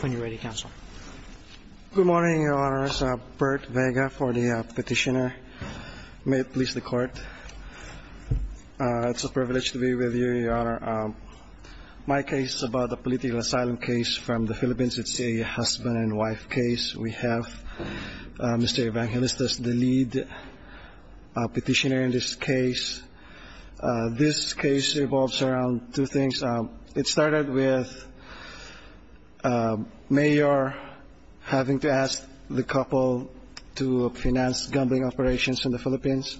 When you're ready, Counsel. Good morning, Your Honors. Bert Vega for the Petitioner. May it please the Court. It's a privilege to be with you, Your Honor. My case is about a political asylum case from the Philippines. It's a husband and wife case. We have Mr. Evangelistas, the lead petitioner in this case. This case revolves around two things. It started with a mayor having to ask the couple to finance gambling operations in the Philippines.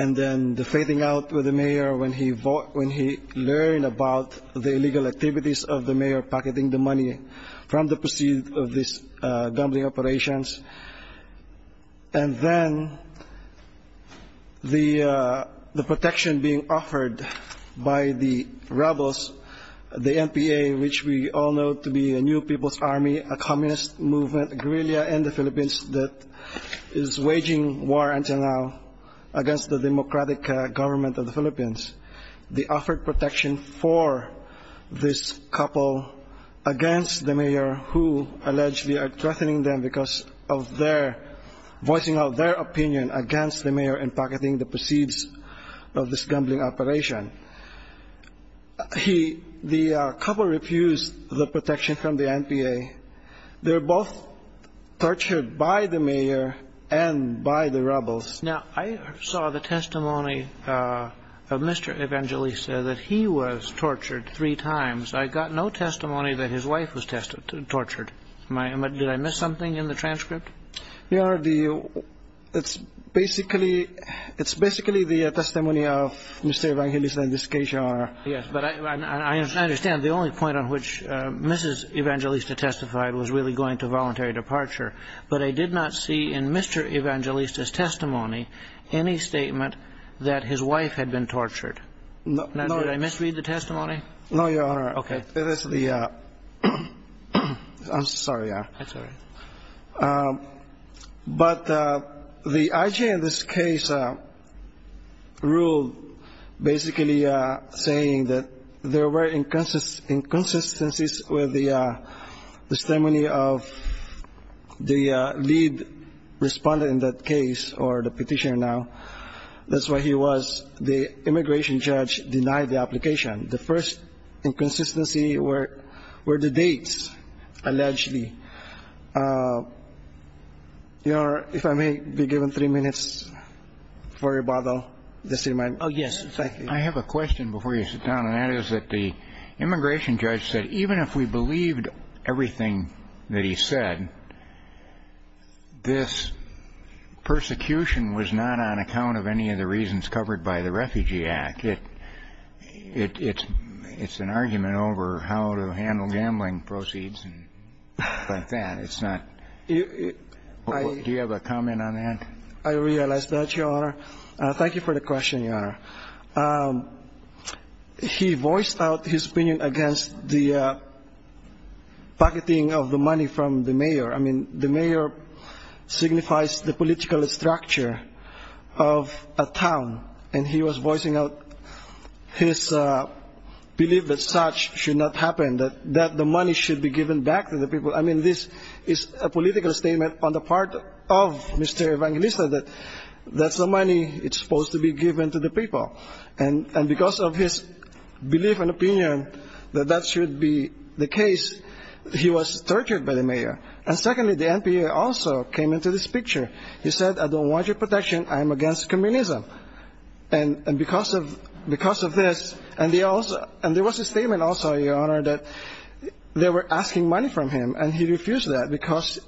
And then the fading out with the mayor when he learned about the illegal activities of the mayor, pocketing the money from the proceeds of these gambling operations. And then the protection being offered by the rebels, the NPA, which we all know to be a new people's army, a communist movement, guerrilla in the Philippines, that is waging war until now against the democratic government of the Philippines. They offered protection for this couple against the mayor who allegedly are threatening them because of their, voicing out their opinion against the mayor and pocketing the proceeds of this gambling operation. He, the couple refused the protection from the NPA. They were both tortured by the mayor and by the rebels. Now, I saw the testimony of Mr. Evangelista that he was tortured three times. I got no testimony that his wife was tortured. Did I miss something in the transcript? Your Honor, the, it's basically, it's basically the testimony of Mr. Evangelista in this case, Your Honor. Yes, but I understand the only point on which Mrs. Evangelista testified was really going to voluntary departure. But I did not see in Mr. Evangelista's testimony any statement that his wife had been tortured. No, Your Honor. Now, did I misread the testimony? No, Your Honor. Okay. It is the, I'm sorry. That's all right. But the IG in this case ruled basically saying that there were inconsistencies with the testimony of the lead respondent in that case, or the petitioner now. That's what he was. The immigration judge denied the application. The first inconsistency were the dates, allegedly. Your Honor, if I may be given three minutes for rebuttal, just to remind me. Oh, yes, exactly. I have a question before you sit down, and that is that the immigration judge said, even if we believed everything that he said, this persecution was not on account of any of the reasons covered by the Refugee Act. It's an argument over how to handle gambling proceeds and stuff like that. It's not. Do you have a comment on that? I realize that, Your Honor. Thank you for the question, Your Honor. He voiced out his backing of the money from the mayor. I mean, the mayor signifies the political structure of a town, and he was voicing out his belief that such should not happen, that the money should be given back to the people. I mean, this is a political statement on the part of Mr. Evangelista that that's the money that's supposed to be given to the people. And because of his belief and opinion that that should be the case, he was tortured by the mayor. And secondly, the NPA also came into this picture. He said, I don't want your protection. I'm against communism. And because of this, and there was a statement also, Your Honor, that they were asking money from him, and he refused that because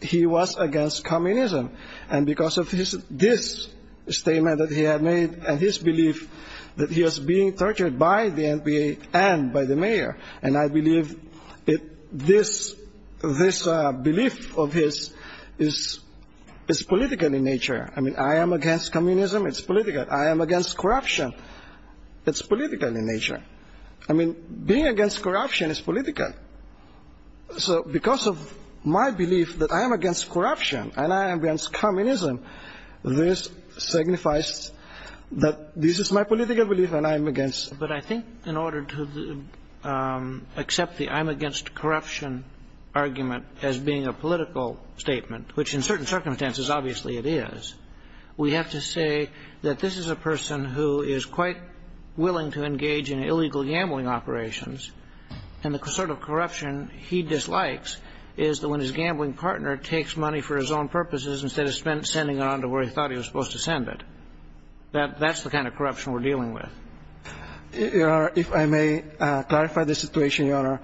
he was against communism. And because of this statement that he had made and his belief that he was being tortured by the NPA and by the mayor. And I believe this belief of his is political in nature. I mean, I am against communism. It's political. I am against corruption. It's political in nature. I mean, being against corruption is political. So because of my belief that I am against communism, this signifies that this is my political belief and I am against. But I think in order to accept the I'm against corruption argument as being a political statement, which in certain circumstances, obviously it is, we have to say that this is a person who is quite willing to engage in illegal gambling operations. And the sort of corruption he dislikes is that when his gambling partner takes money for his own purposes instead of sending it on to where he thought he was supposed to send it. That's the kind of corruption we're dealing with. Your Honor, if I may clarify the situation, Your Honor.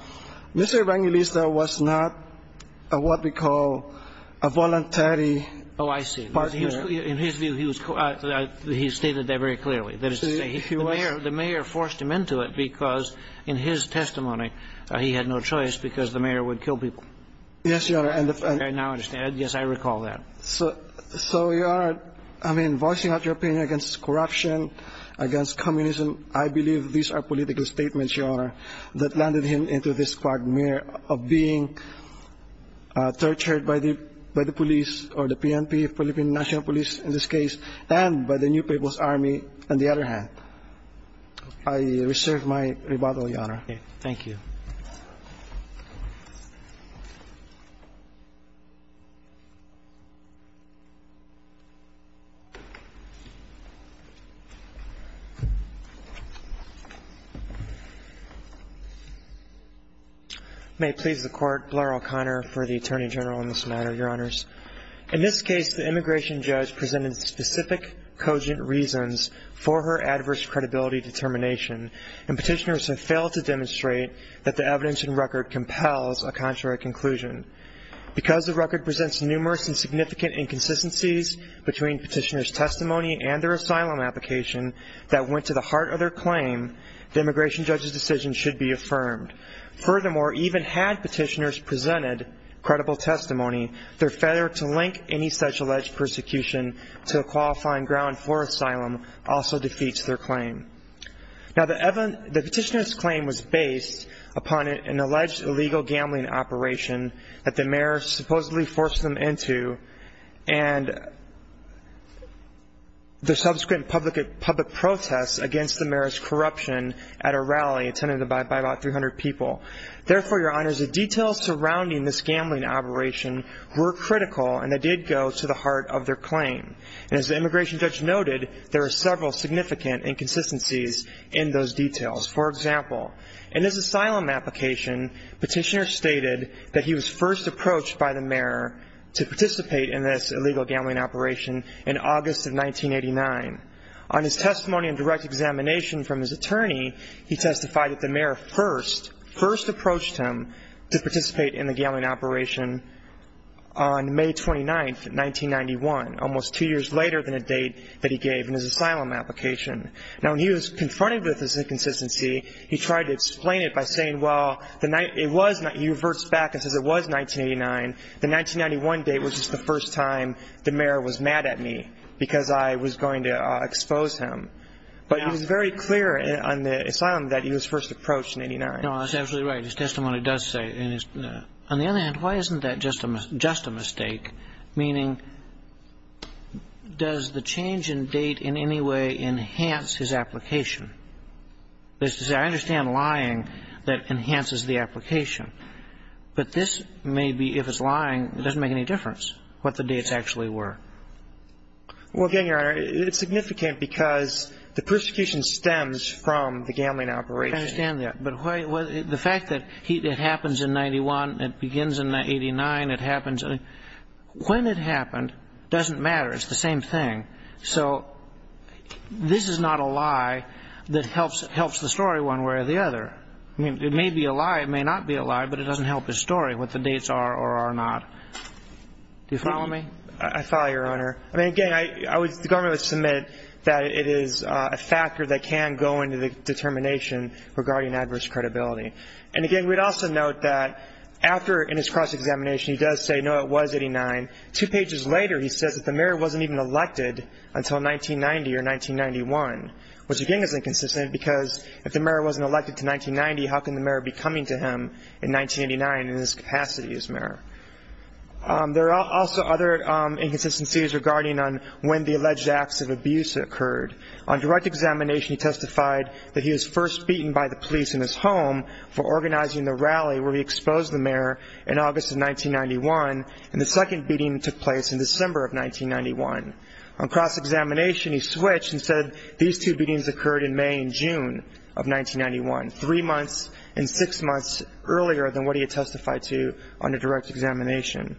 Mr. Evangelista was not what we call a voluntary partner. Oh, I see. In his view, he stated that very clearly. The mayor forced him into it because in his testimony, he had no choice because the mayor would kill people. Yes, Your Honor. I now understand. Yes, I recall that. So Your Honor, I mean, voicing out your opinion against corruption, against communism, I believe these are political statements, Your Honor, that landed him into this quagmire of being tortured by the police or the PNP, Philippine National Police in this case, and by the New York Times. I reserve my rebuttal, Your Honor. Okay. Thank you. May it please the Court, Blair O'Connor for the Attorney General in this matter, Your Honors. In this case, the immigration judge presented specific cogent reasons for her adverse credibility determination, and petitioners have failed to demonstrate that the evidence and record compels a contrary conclusion. Because the record presents numerous and significant inconsistencies between petitioners' testimony and their asylum application that went to the heart of their claim, the immigration judge's decision should be affirmed. Furthermore, even had petitioners presented credible testimony, their failure to link any such alleged persecution to a qualifying ground for asylum also defeats their claim. Now, the petitioner's claim was based upon an alleged illegal gambling operation that the mayor supposedly forced them into, and the subsequent public protests against the mayor's corruption at a rally attended by about 300 people. Therefore, Your Honors, the details surrounding this gambling operation were critical, and they did go to the heart of their claim. And as the immigration judge noted, there are several significant inconsistencies in those details. For example, in his asylum application, petitioners stated that he was first approached by the mayor to participate in this illegal gambling operation in August of 1989. On his testimony and direct examination from his attorney, he testified that the mayor first approached him to participate in the gambling operation on May 29th, 1991, almost two years later than the date that he gave in his asylum application. Now, when he was confronted with this inconsistency, he tried to explain it by saying, well, it was 1989. The 1991 date was just the first time the mayor was mad at me because I was going to expose him. But he was very clear on the asylum that he was first approached in 1989. No, that's absolutely right. His testimony does say. On the other hand, why isn't that just a mistake? Meaning, does the change in date in any way enhance his application? I understand lying that enhances the application. But this may be, if it's lying, it doesn't make any difference what the dates actually were. Well, again, Your Honor, it's significant because the persecution stems from the gambling operation. I understand that. But the fact that it happens in 1991, it begins in 1989, it happens – when it happened, it doesn't matter. It's the same thing. So this is not a lie that helps the story one way or the other. I mean, it may be a lie, it may not be a lie, but it doesn't help the story, what the dates are or are not. Do you follow me? I follow you, Your Honor. I mean, again, the government would submit that it is a factor that can go into the determination regarding adverse credibility. And again, we'd also note that after, in his cross-examination, he does say, no, it was 89. Two pages later, he says that the mayor wasn't even elected until 1990 or 1991, which again is inconsistent because if the mayor wasn't elected to 1990, how can the mayor be coming to him in 1989 in his capacity as mayor? There are also other inconsistencies regarding on when the alleged acts of abuse occurred. On direct examination, he testified that he was first beaten by the police in his home for organizing the rally where he exposed the mayor in August of 1991, and the second beating took place in December of 1991. On cross-examination, he switched and said these two beatings occurred in May and June of 1991, three months and six months earlier than what he had testified to under direct examination.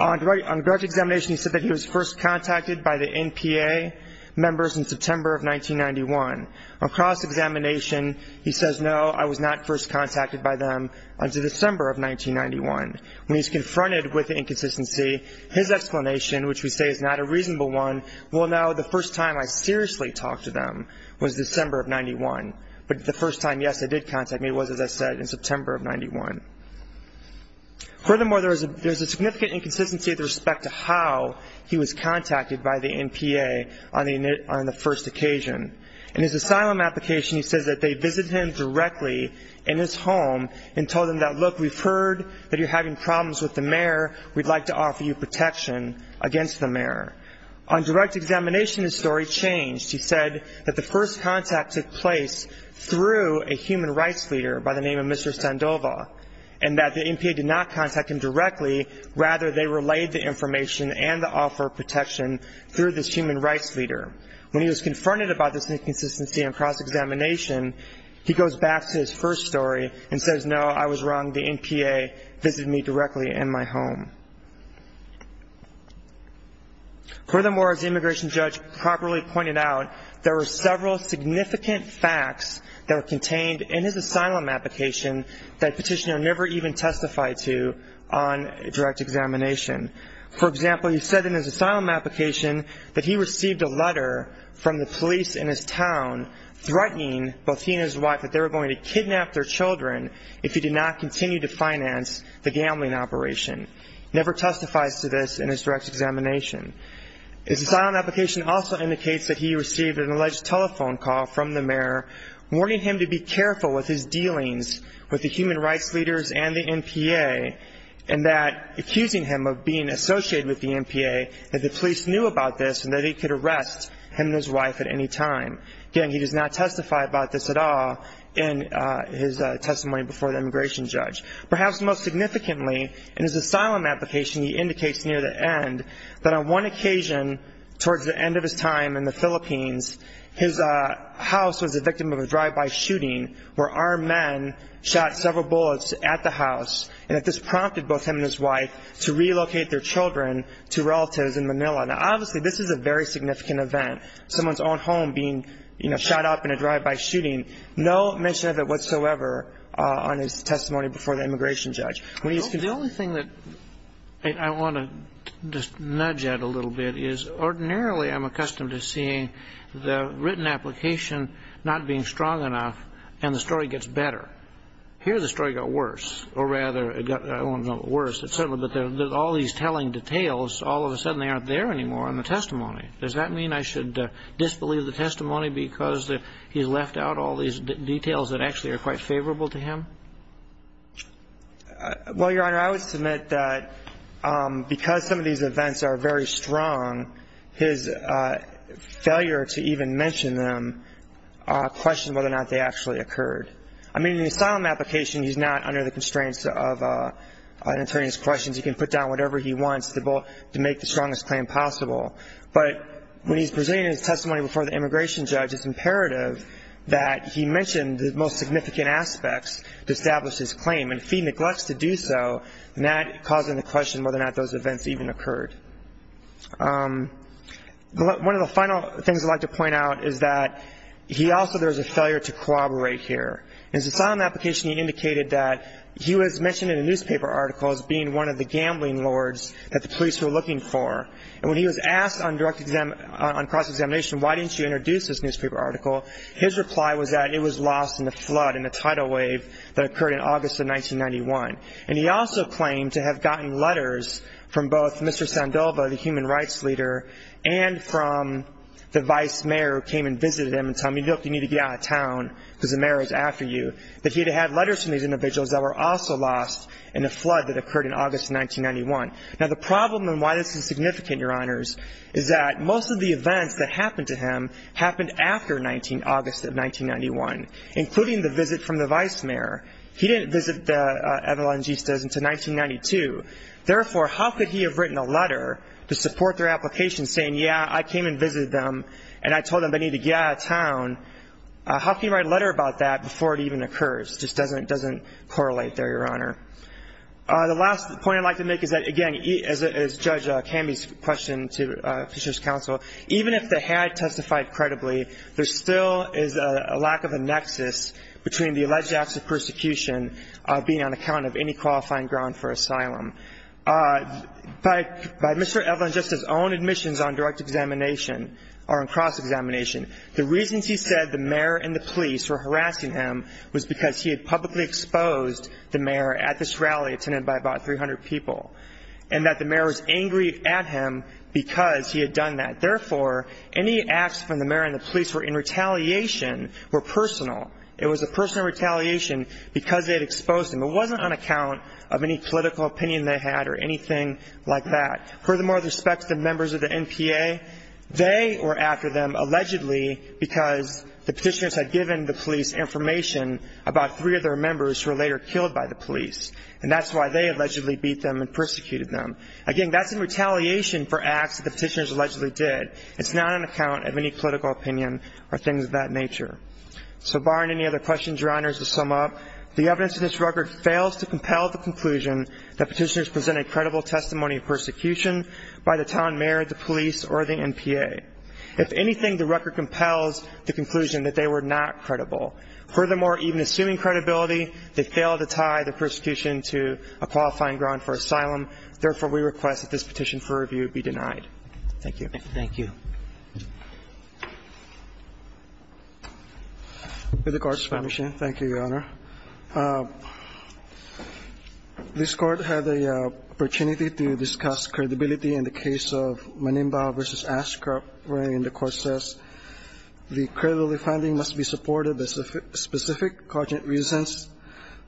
On direct examination, he said that he was first contacted by the NPA members in September of 1991. On cross-examination, he says, no, I was not first contacted by them until December of 1991. When he's confronted with the inconsistency, his explanation, which we say is not a reasonable one, well, no, the first time I seriously talked to them was December of 91. But the first time, yes, they did contact me was, as I said, in September of 91. Furthermore, there is a significant inconsistency with respect to how he was contacted by the NPA on the first occasion. In his asylum application, he says that they visited him directly in his home and told him that, look, we've heard that you're having problems with the mayor. We'd like to offer you protection against the mayor. On direct examination, his story changed. He said that the first contact took place through a human rights leader by the NPA, and that the NPA did not contact him directly. Rather, they relayed the information and the offer of protection through this human rights leader. When he was confronted about this inconsistency on cross-examination, he goes back to his first story and says, no, I was wrong. The NPA visited me directly in my home. Furthermore, as the immigration judge properly pointed out, there were several significant facts that were contained in his asylum application that Petitioner never even testified to on direct examination. For example, he said in his asylum application that he received a letter from the police in his town threatening both he and his wife that they were going to kidnap their children if he did not continue to finance the gambling operation. Never testifies to this in his direct examination. His asylum application also indicates that he received an alleged telephone call from the mayor warning him to be careful with his dealings with the human rights leaders and the NPA, and that accusing him of being associated with the NPA, that the police knew about this and that he could arrest him and his wife at any time. Again, he does not testify about this at all in his testimony before the immigration judge. Perhaps most significantly, in his asylum application, he indicates near the end that on one occasion, towards the end of his time in the Philippines, his house was the victim of a drive-by shooting where armed men shot several bullets at the house, and that this prompted both him and his wife to relocate their children to relatives in Manila. Now, obviously, this is a very significant event, someone's own home being, you know, shot up in a drive-by shooting. No mention of it whatsoever on his testimony before the immigration judge. The only thing that I want to just nudge at a little bit is, ordinarily, I'm accustomed to seeing the written application not being strong enough, and the story gets better. Here, the story got worse, or rather, it got worse, et cetera, but there's all these telling details. All of a sudden, they aren't there anymore in the testimony. Does that mean I should disbelieve the testimony because he left out all these details that actually are quite favorable to him? Well, Your Honor, I would submit that because some of these events are very strong, his failure to even mention them questioned whether or not they actually occurred. I mean, in the asylum application, he's not under the constraints of an attorney's questions. He can put down whatever he wants to make the strongest claim possible, but when he's presenting his testimony before the immigration judge, it's imperative that he mention the most significant aspects to establish his claim, and he neglects to do so, not causing the question whether or not those events even occurred. One of the final things I'd like to point out is that he also, there was a failure to corroborate here. In his asylum application, he indicated that he was mentioned in a newspaper article as being one of the gambling lords that the police were looking for, and when he was asked on cross-examination, why didn't you introduce this newspaper article, his reply was that it was lost in the flood, in the tidal wave that occurred in August of 1991. And he also claimed to have gotten letters from both Mr. Sandoval, the human rights leader, and from the vice mayor who came and visited him and told him, look, you need to get out of town because the mayor is after you, that he had had letters from these individuals that were also lost in the flood that occurred in August of 1991. Now, the problem and why this is significant, Your Honors, is that most of the events that happened to him happened after August of 1991, including the visit from the vice mayor. He didn't visit the Evangistas until 1992. Therefore, how could he have written a letter to support their application saying, yeah, I came and visited them and I told them they need to get out of town? How can you write a letter about that before it even occurs? It just doesn't correlate there, Your Honor. The last point I'd like to make is that, again, as Judge Camby's question to Fisher's counsel, even if they had testified credibly, there still is a lack of a nexus between the alleged acts of persecution being on account of any qualifying ground for asylum. By Mr. Evangista's own admissions on direct examination or on cross-examination, the reasons he said the mayor and the police were harassing him was because he had publicly exposed the mayor at this rally attended by about 300 people, and that the mayor was Therefore, any acts from the mayor and the police were in retaliation were personal. It was a personal retaliation because they had exposed him. It wasn't on account of any political opinion they had or anything like that. Furthermore, with respect to the members of the NPA, they were after them allegedly because the petitioners had given the police information about three of their members who were later killed by the police, and that's why they allegedly beat them and persecuted them. Again, that's in retaliation for acts that the petitioners allegedly did. It's not on account of any political opinion or things of that nature. So barring any other questions, Your Honors, to sum up, the evidence in this record fails to compel the conclusion that petitioners presented credible testimony of persecution by the town mayor, the police, or the NPA. If anything, the record compels the conclusion that they were not credible. Furthermore, even assuming credibility, they failed to tie the persecution to a qualifying ground for asylum. Therefore, we request that this petition for review be denied. Thank you. Thank you. With the Court's permission, thank you, Your Honor. This Court had the opportunity to discuss credibility in the case of Manimba v. Ashcroft, wherein the Court says the credibility finding must be supported by the specific cognate reasons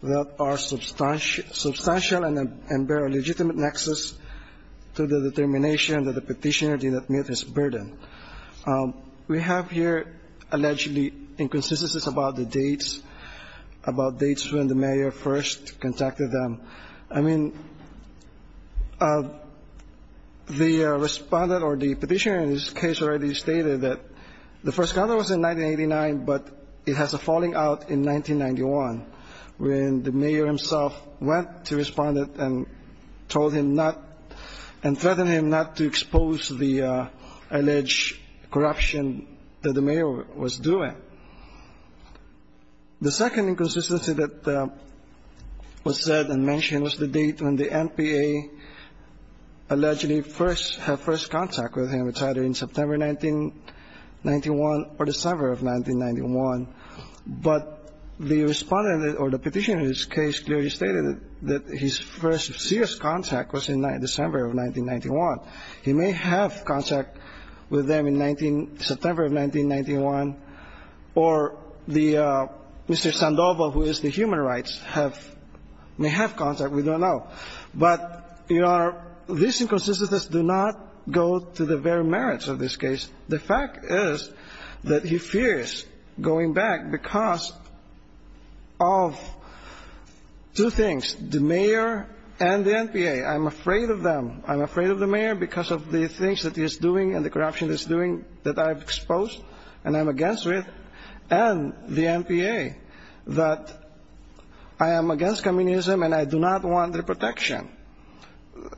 that are substantial and bear a legitimate nexus to the determination that the petitioner did not meet his burden. We have here allegedly inconsistencies about the dates, about dates when the mayor first contacted them. I mean, the respondent or the petitioner in this case already stated that the first contact was in 1989, but it has a falling out in 1991, when the mayor himself went to respondent and told him not, and threatened him not to expose the alleged corruption that the mayor was doing. The second inconsistency that was said and mentioned was the date when the NPA allegedly first had first contact with him, which is either in September 1991 or December of 1991. But the respondent or the petitioner in this case clearly stated that his first serious contact was in December of 1991. He may have contact with them in September of 1991, or Mr. Sandoval, who is the human rights, may have contact. We don't know. But, Your Honor, these inconsistencies do not go to the very merits of this case. The fact is that he fears going back because of two things, the mayor and the NPA. I'm afraid of them. I'm afraid of the mayor because of the things that he is doing and the corruption that he's doing that I've exposed and I'm against with, and the NPA, that I am against with, and the protection.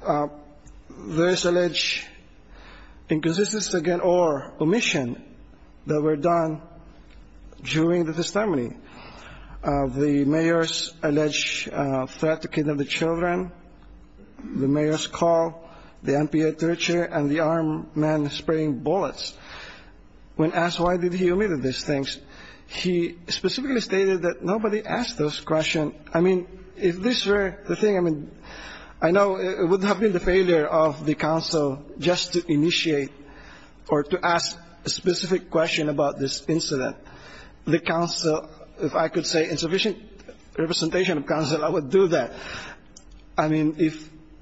There is alleged inconsistency, again, or omission that were done during the testimony of the mayor's alleged threat to kidnap the children, the mayor's call, the NPA torture, and the armed men spraying bullets. When asked why did he omit these things, he specifically stated that nobody asked those questions. I mean, if this were the thing, I mean, I know it would have been the failure of the counsel just to initiate or to ask a specific question about this incident. The counsel, if I could say insufficient representation of counsel, I would do that. I mean,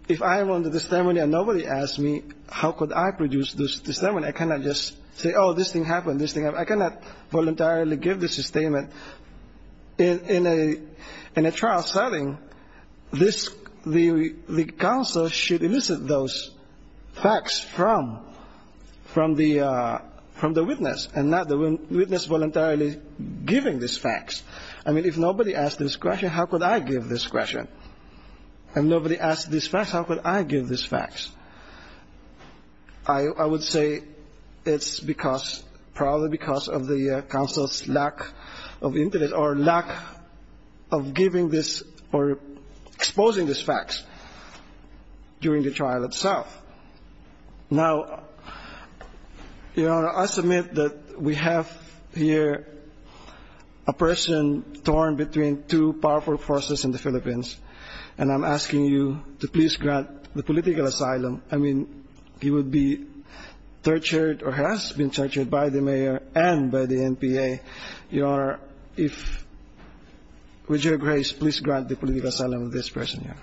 if I am on the testimony and nobody asked me how could I produce this testimony, I cannot just say, oh, this thing happened, this thing happened, I cannot voluntarily give this statement. In a trial setting, this, the counsel should elicit those facts from the witness and not the witness voluntarily giving this facts. I mean, if nobody asked this question, how could I give this question? If nobody asked this question, how could I give this facts? I would say it's because, probably because of the counsel's lack of interest or lack of giving this or exposing this facts during the trial itself. Now, Your Honor, I submit that we have here a person torn between two powerful forces in the Philippines, and I'm asking you to please grant the political asylum. I mean, he would be tortured or has been tortured by the mayor and by the NPA. Your Honor, if, with your grace, please grant the political asylum of this person here.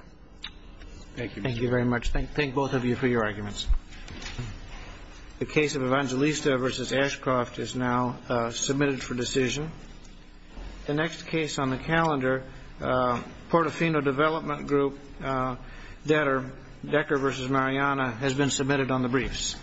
Thank you. Thank you very much. Thank both of you for your arguments. The case of Evangelista v. Ashcroft is now submitted for decision. The next case on the calendar, Portofino Development Group debtor, Decker v. Mariana, has been submitted on the briefs.